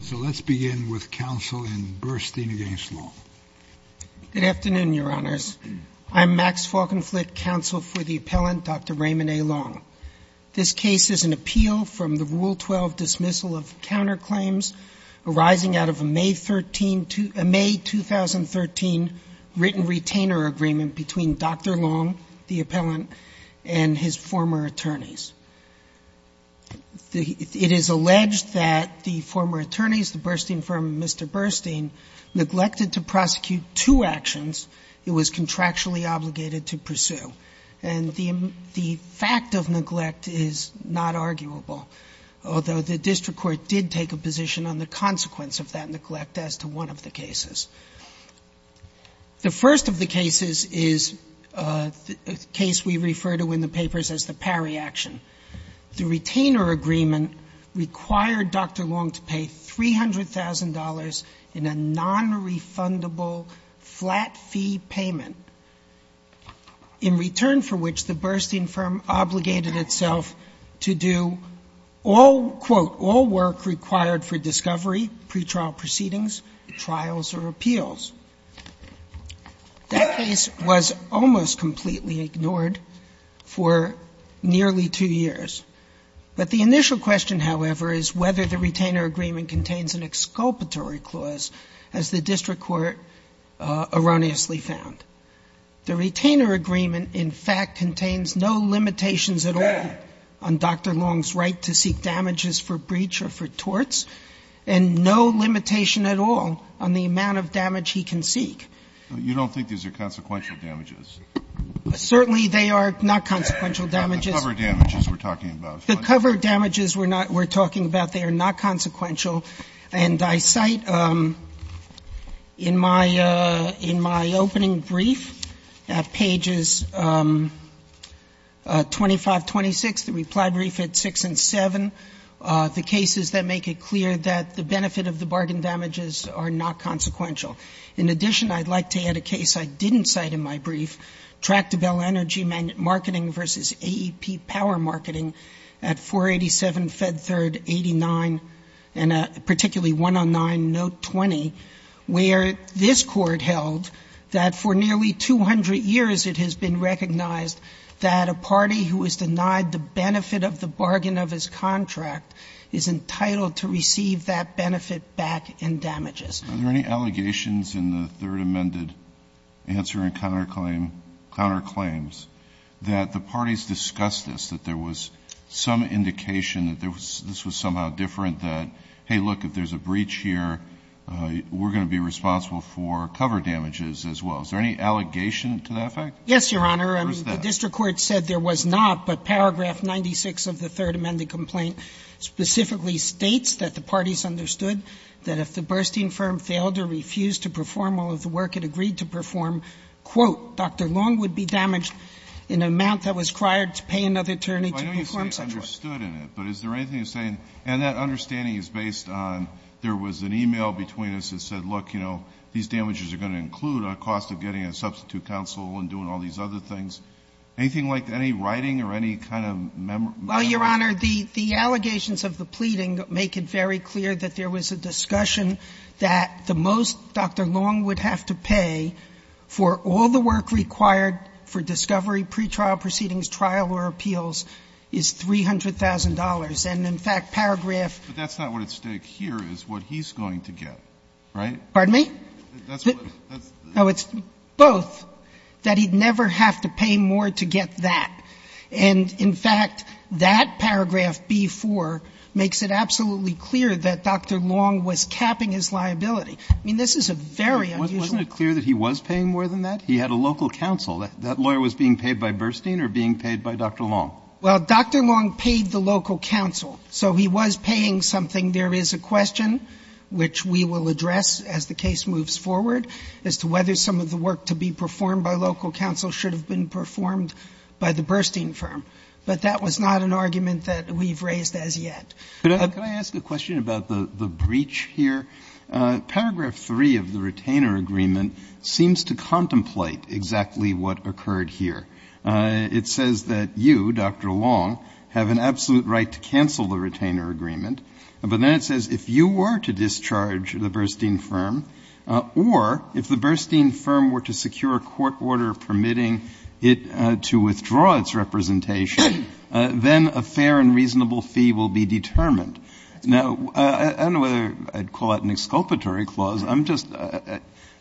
So let's begin with counsel in Burstein v. Long. Good afternoon, Your Honors. I'm Max Falkenflett, counsel for the appellant, Dr. Raymond A. Long. This case is an appeal from the Rule 12 dismissal of counterclaims arising out of a May 2013 written retainer agreement between Dr. Long, the appellant, and his former attorneys. It is alleged that the former attorneys, the Burstein firm and Mr. Burstein, neglected to prosecute two actions it was contractually obligated to pursue. And the fact of neglect is not arguable, although the district court did take a position on the consequence of that neglect as to one of the cases. The first of the cases is a case we refer to in the papers as the Parry action. The retainer agreement required Dr. Long to pay $300,000 in a nonrefundable flat fee payment, in return for which the Burstein firm obligated itself to do, quote, all work required for discovery, pretrial proceedings, trials, or appeals. That case was almost completely ignored for nearly two years. But the initial question, however, is whether the retainer agreement contains an exculpatory clause, as the district court erroneously found. The retainer agreement, in fact, contains no limitations at all on Dr. Long's right to seek damages for breach or for torts, and no limitation at all on the amount of damage he can seek. You don't think these are consequential damages? Certainly they are not consequential damages. The cover damages we're talking about. The cover damages we're talking about, they are not consequential. And I cite in my opening brief at pages 25, 26, the reply brief at 6 and 7, the cases that make it clear that the benefit of the bargain damages are not consequential. In addition, I'd like to add a case I didn't cite in my brief, Tractable Energy Marketing v. AEP Power Marketing at 487 Fed 3rd 89, and particularly 109 Note 20, where this Court held that for nearly 200 years it has been recognized that a party who is denied the benefit of the bargain of his contract is entitled to receive that benefit back in damages. Are there any allegations in the Third Amendment answer and counterclaim -- counterclaims that the parties discussed this, that there was some indication that this was somehow different, that, hey, look, if there's a breach here, we're going to be responsible for cover damages as well? Is there any allegation to that fact? Yes, Your Honor. The district court said there was not, but paragraph 96 of the Third Amendment complaint specifically states that the parties understood that if the bursting firm failed or refused to perform all of the work it agreed to perform, quote, Dr. Long would be damaged in an amount that was required to pay another attorney to perform such work. But is there anything to say, and that understanding is based on there was an e-mail between us that said, look, you know, these damages are going to include a cost of getting a substitute counsel and doing all these other things, anything like any writing or any kind of memory? Well, Your Honor, the allegations of the pleading make it very clear that there was a discussion that the most Dr. Long would have to pay for all the work required for discovery, pretrial proceedings, trial or appeals is $300,000, and, in fact, paragraph --- But that's not what at stake here is what he's going to get, right? Pardon me? That's what it's going to get. No, it's both, that he'd never have to pay more to get that. And, in fact, that paragraph B-4 makes it absolutely clear that Dr. Long was capping his liability. I mean, this is a very unusual- Wasn't it clear that he was paying more than that? He had a local counsel. That lawyer was being paid by Burstein or being paid by Dr. Long? Well, Dr. Long paid the local counsel, so he was paying something. There is a question, which we will address as the case moves forward, as to whether some of the work to be performed by local counsel should have been performed by the Burstein firm. But that was not an argument that we've raised as yet. Could I ask a question about the breach here? Paragraph 3 of the Retainer Agreement seems to contemplate exactly what occurred here. It says that you, Dr. Long, have an absolute right to cancel the Retainer Agreement, but then it says if you were to discharge the Burstein firm, or if the Burstein firm were to secure a court order permitting it to withdraw its representation, then a fair and reasonable fee will be determined. Now, I don't know whether I'd call that an exculpatory clause. I'm just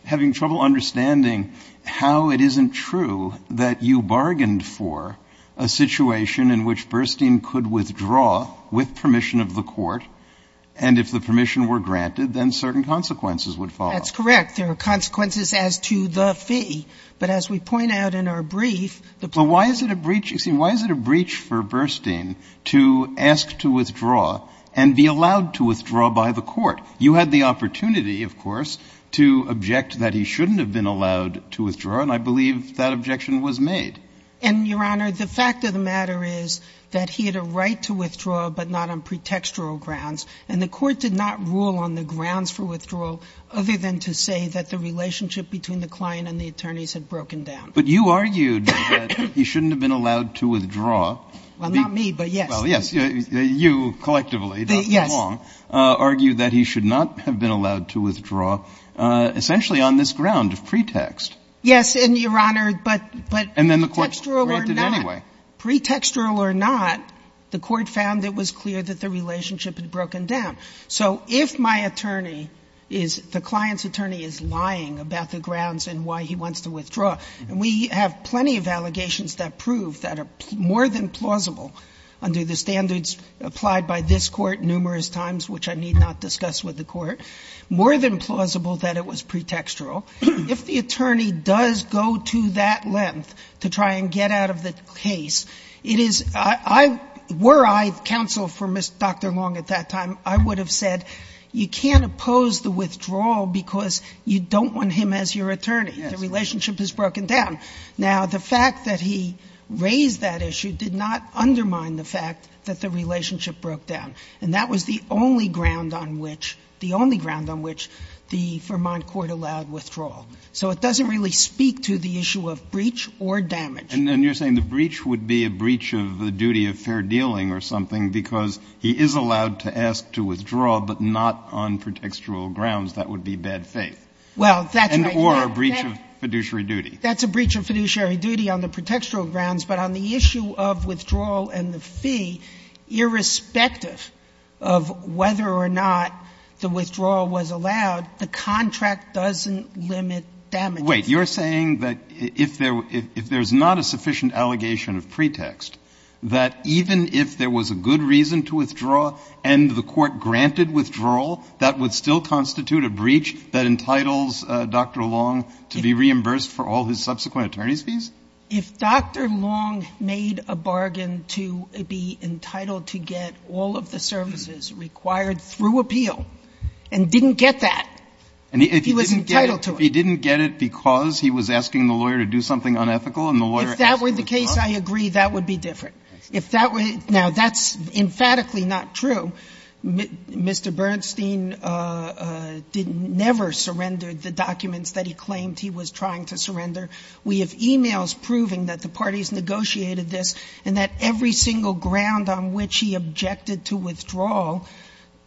having trouble understanding how it isn't true that you bargained for a situation in which Burstein could withdraw with permission of the court, and if the permission were granted, then certain consequences would follow. That's correct. There are consequences as to the fee. But as we point out in our brief, the plaintiff was not granted the right to withdraw the Burstein firm. But why is it a breach? You see, why is it a breach for Burstein to ask to withdraw and be allowed to withdraw by the court? to withdraw. And I believe that objection was made. And, Your Honor, the fact of the matter is that he had a right to withdraw, but not on pretextual grounds. And the court did not rule on the grounds for withdrawal, other than to say that the relationship between the client and the attorneys had broken down. But you argued that he shouldn't have been allowed to withdraw. Well, not me, but yes. Well, yes, you collectively, not Wong, argued that he should not have been allowed to withdraw, essentially on this ground of pretext. Yes, and, Your Honor, but pretextual or not, pretextual or not, the court found it was clear that the relationship had broken down. So if my attorney is the client's attorney is lying about the grounds and why he wants to withdraw, and we have plenty of allegations that prove that are more than plausible under the standards applied by this Court numerous times, which I need not discuss with the Court, more than plausible that it was pretextual. If the attorney does go to that length to try and get out of the case, it is – I – were I counsel for Dr. Wong at that time, I would have said you can't oppose the withdrawal because you don't want him as your attorney. The relationship has broken down. Now, the fact that he raised that issue did not undermine the fact that the relationship broke down, and that was the only ground on which, the only ground on which, the So it doesn't really speak to the issue of breach or damage. And you're saying the breach would be a breach of the duty of fair dealing or something because he is allowed to ask to withdraw, but not on pretextual grounds. That would be bad faith. Well, that's right. And or a breach of fiduciary duty. That's a breach of fiduciary duty on the pretextual grounds, but on the issue of withdrawal and the fee, irrespective of whether or not the withdrawal was allowed, the contract doesn't limit damage. Wait. You're saying that if there's not a sufficient allegation of pretext, that even if there was a good reason to withdraw and the court granted withdrawal, that would still constitute a breach that entitles Dr. Wong to be reimbursed for all his subsequent attorney's fees? If Dr. Wong made a bargain to be entitled to get all of the services required through appeal and didn't get that. And if he didn't get it because he was asking the lawyer to do something unethical and the lawyer asked him to withdraw. If that were the case, I agree that would be different. If that were the case. Now, that's emphatically not true. Mr. Bernstein never surrendered the documents that he claimed he was trying to surrender. We have e-mails proving that the parties negotiated this and that every single ground on which he objected to withdrawal,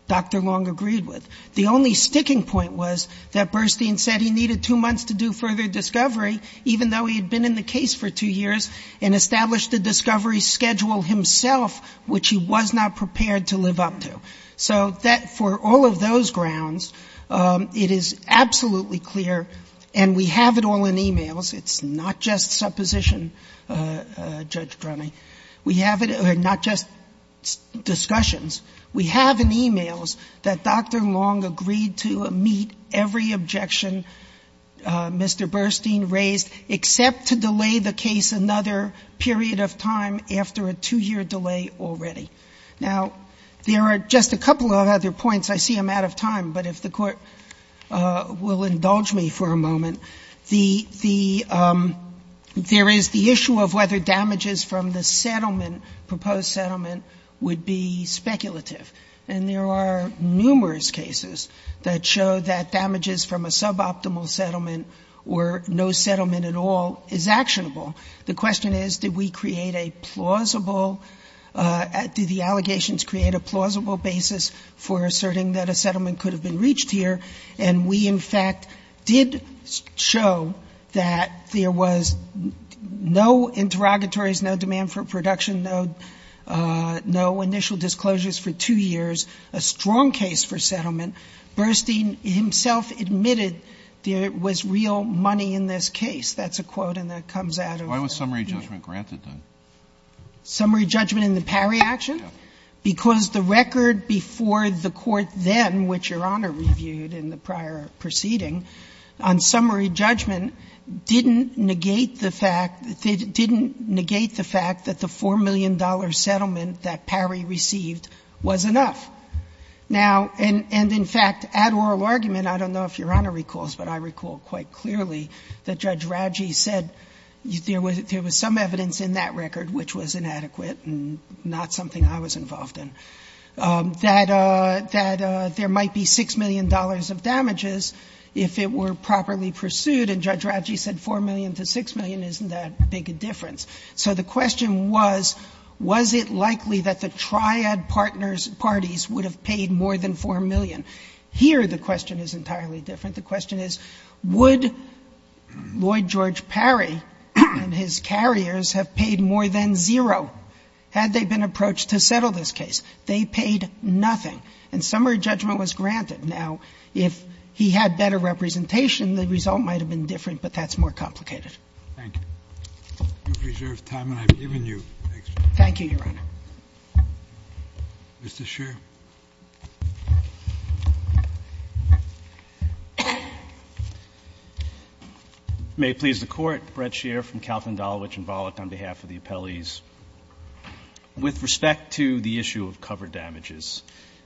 Dr. Wong agreed with. The only sticking point was that Bernstein said he needed two months to do further discovery, even though he had been in the case for two years and established a discovery schedule himself, which he was not prepared to live up to. So that for all of those grounds, it is absolutely clear, and we have it all in e-mails. It's not just supposition, Judge Droney. We have it in not just discussions. We have in e-mails that Dr. Wong agreed to meet every objection Mr. Bernstein raised except to delay the case another period of time after a two-year delay already. Now, there are just a couple of other points. I see I'm out of time, but if the Court will indulge me for a moment. The issue of whether damages from the settlement, proposed settlement, would be speculative and there are numerous cases that show that damages from a suboptimal settlement or no settlement at all is actionable. The question is, did we create a plausible, did the allegations create a plausible basis for asserting that a settlement could have been reached here, and we in fact did show that there was no interrogatories, no demand for production, no initial disclosures for two years, a strong case for settlement. Bernstein himself admitted there was real money in this case. That's a quote, and that comes out of the case. Why was summary judgment granted, then? Summary judgment in the Parry action? Because the record before the Court then, which Your Honor reviewed in the prior proceeding, on summary judgment didn't negate the fact that the $4 million settlement that Parry received was enough. Now, and in fact, at oral argument, I don't know if Your Honor recalls, but I recall quite clearly that Judge Rauji said there was some evidence in that record which was inadequate and not something I was involved in, that there might be $6 million of damages if it were properly pursued, and Judge Rauji said $4 million to $6 million isn't that big a difference. So the question was, was it likely that the triad partners' parties would have paid more than $4 million? Here, the question is entirely different. The question is, would Lloyd George Parry and his carriers have paid more than zero had they been approached to settle this case? They paid nothing, and summary judgment was granted. Now, if he had better representation, the result might have been different, but that's more complicated. Thank you. You've reserved time, and I've given you extra time. Thank you, Your Honor. Mr. Shearer. May it please the Court. Brett Shearer from Calvin, Dulwich & Volokh on behalf of the appellees. With respect to the issue of cover damages,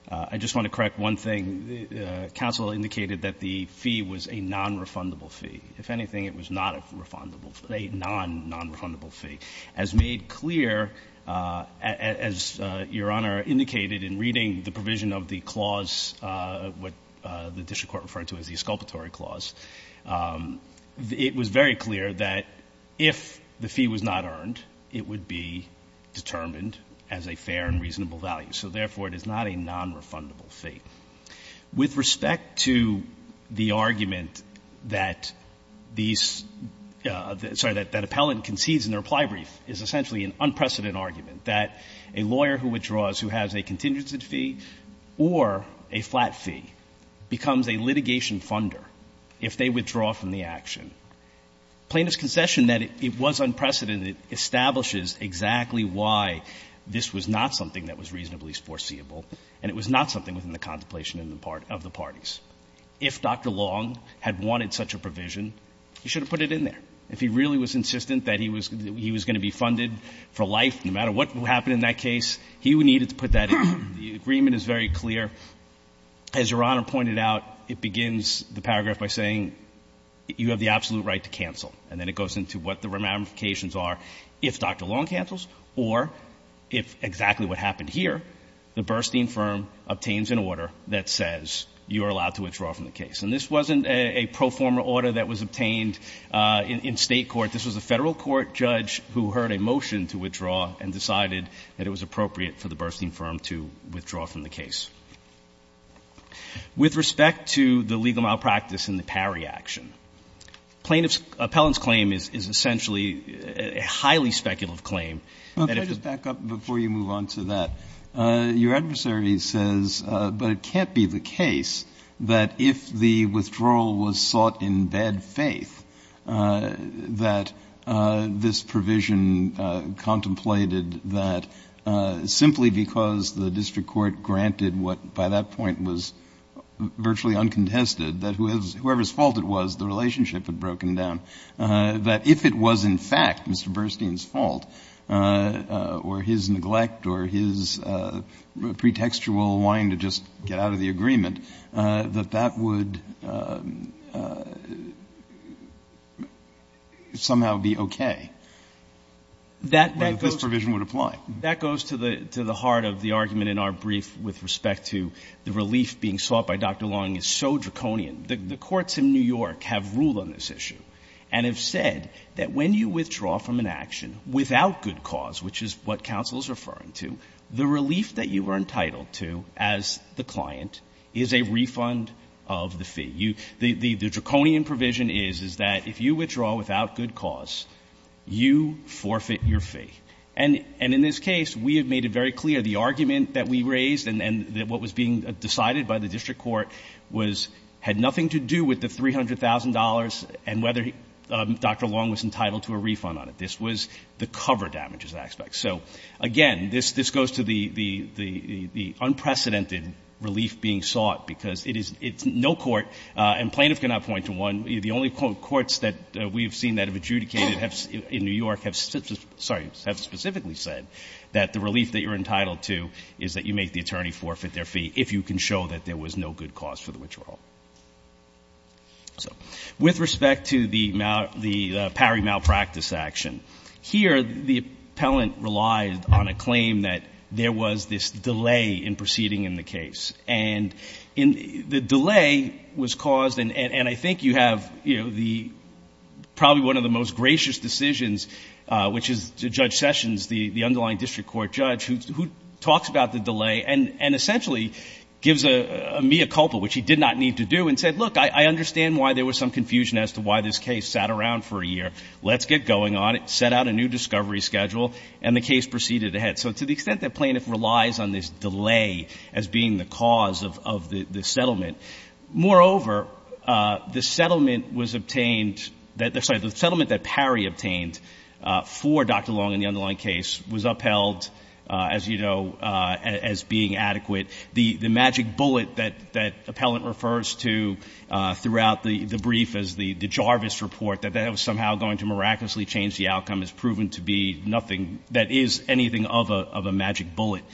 I just want to correct one thing. Counsel indicated that the fee was a nonrefundable fee. If anything, it was not a refundable fee, a nonnonrefundable fee. As made clear, as Your Honor indicated in reading the provision of the clause, what the district court referred to as the exculpatory clause, it was very clear that if the fee was not earned, it would be determined as a fair and reasonable value. So, therefore, it is not a nonrefundable fee. With respect to the argument that these – sorry, that appellant concedes in their reply brief is essentially an unprecedented argument, that a lawyer who withdraws who has a contingency fee or a flat fee becomes a litigation funder if they withdraw from the action, plaintiff's concession that it was unprecedented establishes exactly why this was not something that was reasonably foreseeable and it was not something within the contemplation of the parties. If Dr. Long had wanted such a provision, he should have put it in there. If he really was insistent that he was going to be funded for life no matter what happened in that case, he needed to put that in. The agreement is very clear. As Your Honor pointed out, it begins the paragraph by saying you have the absolute right to cancel. And then it goes into what the ramifications are if Dr. Long cancels or if exactly what happened here, the Burstein firm obtains an order that says you are allowed to withdraw from the case. And this wasn't a pro forma order that was obtained in State court. This was a Federal court judge who heard a motion to withdraw and decided that it was appropriate for the Burstein firm to withdraw from the case. With respect to the legal malpractice in the Parry action, plaintiff's appellant's claim is essentially a highly speculative claim. Breyer. Can I just back up before you move on to that? Your adversary says, but it can't be the case that if the withdrawal was sought in bad faith, that this provision contemplated that simply because the district court granted what by that point was virtually uncontested, that whoever's fault it was, the relationship had broken down, that if it was in fact Mr. Burstein's fault or his neglect or his pretextual wanting to just get out of the agreement, that that would somehow be okay, that this provision would apply? Well, that goes to the heart of the argument in our brief with respect to the relief being sought by Dr. Long is so draconian. The courts in New York have ruled on this issue and have said that when you withdraw from an action without good cause, which is what counsel is referring to, the relief that you are entitled to as the client is a refund of the fee. The draconian provision is, is that if you withdraw without good cause, you forfeit your fee. And in this case, we have made it very clear, the argument that we raised and what was being decided by the district court was, had nothing to do with the $300,000 and whether Dr. Long was entitled to a refund on it. This was the cover damages aspect. So, again, this goes to the unprecedented relief being sought because it is no court and plaintiff cannot point to one. The only courts that we have seen that have adjudicated in New York have specifically said that the relief that you are entitled to is that you make the attorney forfeit their fee if you can show that there was no good cause for the withdrawal. With respect to the Parry malpractice action, here the appellant relied on a claim that there was this delay in proceeding in the case. And the delay was caused, and I think you have, you know, the probably one of the most gracious decisions, which is to Judge Sessions, the underlying district court judge, who talks about the delay and essentially gives a mea culpa, which he did not need to do, and said, look, I understand why there was some confusion as to why this case sat around for a year. Let's get going on it, set out a new discovery schedule, and the case proceeded ahead. So to the extent that plaintiff relies on this delay as being the cause of the settlement, moreover, the settlement was obtained that the settlement that Parry obtained for Dr. Long in the underlying case was upheld, as you know, as being adequate. The magic bullet that appellant refers to throughout the brief as the Jarvis report, that that was somehow going to miraculously change the outcome, has proven to be nothing that is anything of a magic bullet.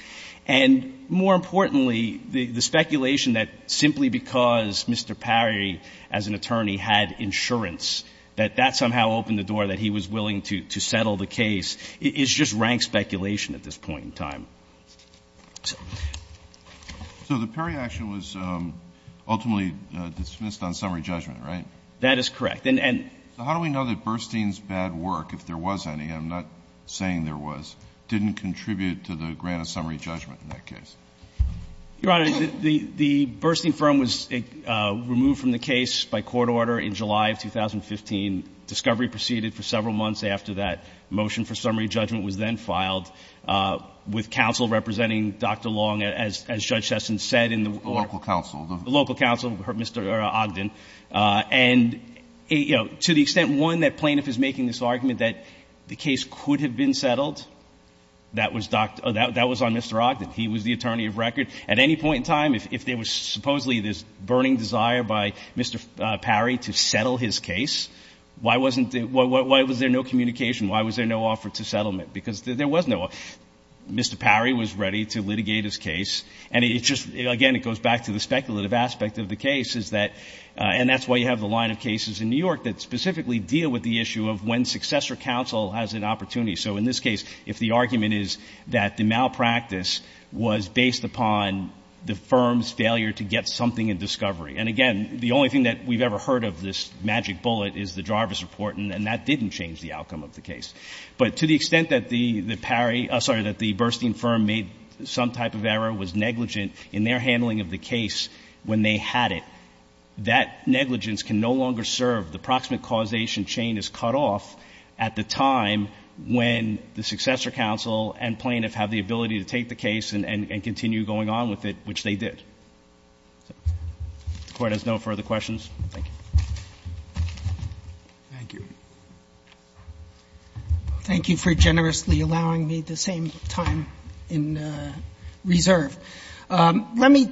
And more importantly, the speculation that simply because Mr. Parry, as an attorney, had insurance, that that somehow opened the door, that he was willing to settle the case, is just rank speculation at this point in time. So the Parry action was ultimately dismissed on summary judgment, right? That is correct. And how do we know that Burstein's bad work, if there was any, I'm not saying there was, didn't contribute to the grant of summary judgment in that case? Your Honor, the Burstein firm was removed from the case by court order in July of 2015. Discovery proceeded for several months after that. Motion for summary judgment was then filed with counsel representing Dr. Long, as Judge Chesson said in the report. The local counsel. The local counsel, Mr. Ogden. And, you know, to the extent, one, that plaintiff is making this argument that the case had been settled, that was on Mr. Ogden. He was the attorney of record. At any point in time, if there was supposedly this burning desire by Mr. Parry to settle his case, why was there no communication? Why was there no offer to settlement? Because there was no offer. Mr. Parry was ready to litigate his case. And it just, again, it goes back to the speculative aspect of the case, is that, and that's why you have the line of cases in New York that specifically deal with the issue of when successor counsel has an opportunity. So in this case, if the argument is that the malpractice was based upon the firm's failure to get something in Discovery. And, again, the only thing that we've ever heard of this magic bullet is the driver's report, and that didn't change the outcome of the case. But to the extent that the Parry, sorry, that the Burstein firm made some type of error was negligent in their handling of the case when they had it, that negligence can no longer serve. The proximate causation chain is cut off at the time when the successor counsel and plaintiff have the ability to take the case and continue going on with it, which they did. If the Court has no further questions, thank you. Thank you. Thank you for generously allowing me the same time in reserve. Let me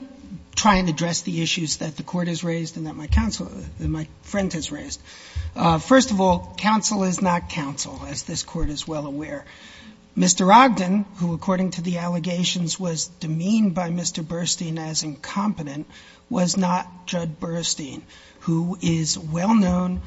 try and address the issues that the Court has raised and that my counsel and my friend has raised. First of all, counsel is not counsel, as this Court is well aware. Mr. Ogden, who according to the allegations was demeaned by Mr. Burstein as incompetent, was not Judd Burstein, who is well known,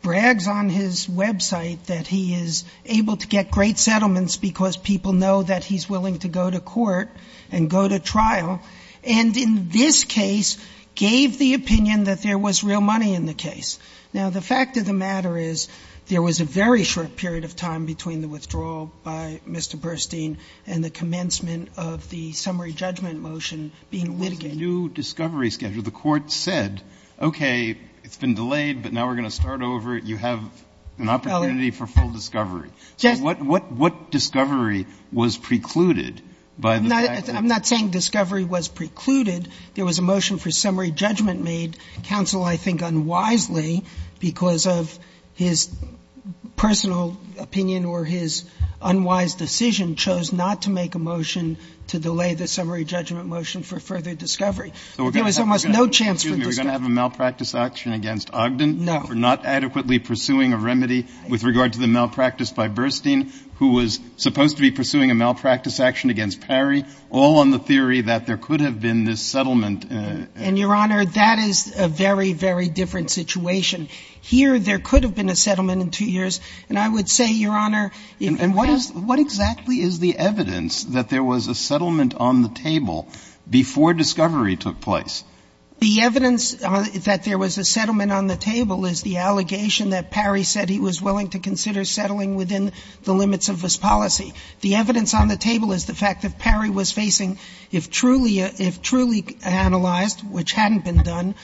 brags on his website that he is able to get great settlements because people know that he's willing to go to court and go to trial, and in this case gave the opinion that there was real money in the case. Now, the fact of the matter is there was a very short period of time between the withdrawal by Mr. Burstein and the commencement of the summary judgment motion being litigated. It was a new discovery schedule. The Court said, okay, it's been delayed, but now we're going to start over. You have an opportunity for full discovery. In this case, it was precluded. There was a motion for summary judgment made. Counsel, I think unwisely, because of his personal opinion or his unwise decision, chose not to make a motion to delay the summary judgment motion for further discovery. There was almost no chance for discovery. Breyer, we're going to have a malpractice action against Ogden? No. We're not adequately pursuing a remedy with regard to the malpractice by Burstein, who was supposed to be pursuing a malpractice action against Perry, all on the theory that there could have been this settlement. And, Your Honor, that is a very, very different situation. Here, there could have been a settlement in two years. And I would say, Your Honor, if you ask me... And what exactly is the evidence that there was a settlement on the table before discovery took place? The evidence that there was a settlement on the table is the allegation that Perry said he was willing to consider settling within the limits of his policy. The evidence on the table is the fact that Perry was facing, if truly analyzed, which hadn't been done,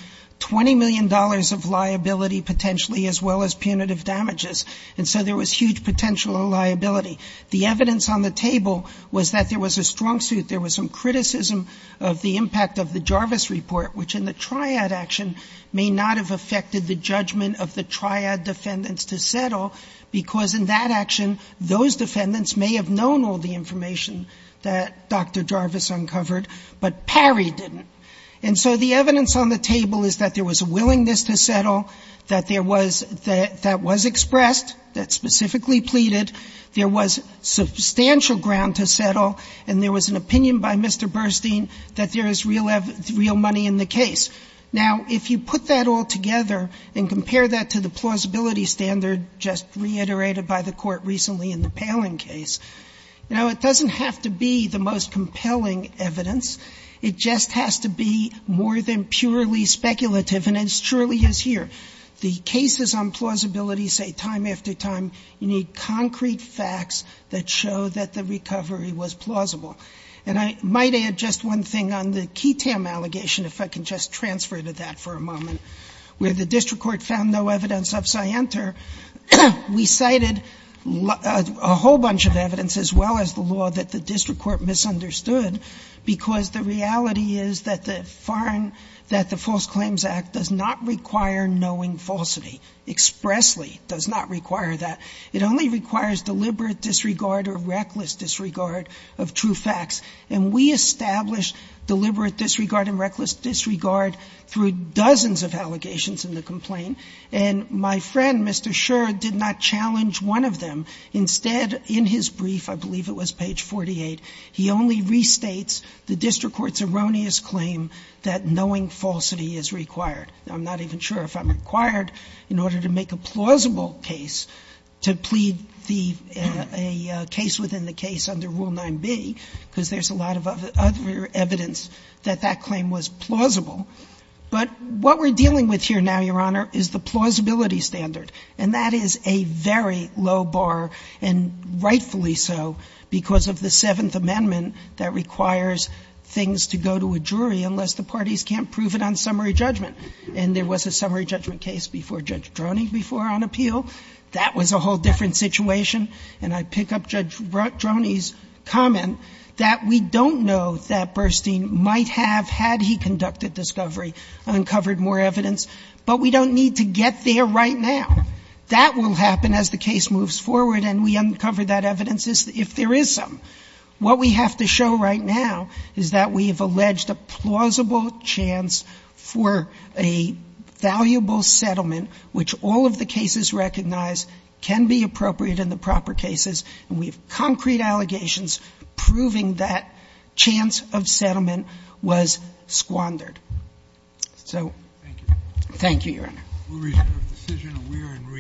$20 million of liability, potentially, as well as punitive damages. And so there was huge potential liability. The evidence on the table was that there was a strong suit. There was some criticism of the impact of the Jarvis report, which in the triad action may not have affected the judgment of the triad defendants to settle, because in that action, those defendants may have known all the information that Dr. Jarvis uncovered, but Perry didn't. And so the evidence on the table is that there was a willingness to settle, that there was... That was expressed, that specifically pleaded. There was substantial ground to settle. And there was an opinion by Mr. Burstein that there is real money in the case. Now, if you put that all together and compare that to the plausibility standard just reiterated by the Court recently in the Palin case, you know, it doesn't have to be the most compelling evidence. It just has to be more than purely speculative, and it truly is here. The cases on plausibility say time after time you need concrete facts that show that the recovery was plausible. And I might add just one thing on the Keetam allegation, if I can just transfer to that for a moment. Where the district court found no evidence of scienter, we cited a whole bunch of evidence, as well as the law, that the district court misunderstood, because the reality is that the Foreign — that the False Claims Act does not require knowing falsity, expressly does not require that. It only requires deliberate disregard or reckless disregard of true facts. And we established deliberate disregard and reckless disregard through dozens of allegations in the complaint. And my friend, Mr. Scherr, did not challenge one of them. Instead, in his brief, I believe it was page 48, he only restates the district court's erroneous claim that knowing falsity is required. I'm not even sure if I'm required in order to make a plausible case to plead a case within the case under Rule 9b, because there's a lot of other evidence that that claim was plausible. But what we're dealing with here now, Your Honor, is the plausibility standard. And that is a very low bar, and rightfully so, because of the Seventh Amendment that requires things to go to a jury unless the parties can't prove it on summary judgment. And there was a summary judgment case before Judge Droney before on appeal. That was a whole different situation. And I pick up Judge Droney's comment that we don't know that Burstein might have had he conducted discovery, uncovered more evidence. But we don't need to get there right now. That will happen as the case moves forward, and we uncover that evidence if there is some. What we have to show right now is that we have alleged a plausible chance for a valuable settlement, which all of the cases recognize can be appropriate in the proper cases. And we have concrete allegations proving that chance of settlement was squandered. So thank you, Your Honor. We'll reserve the decision, and we are in recess.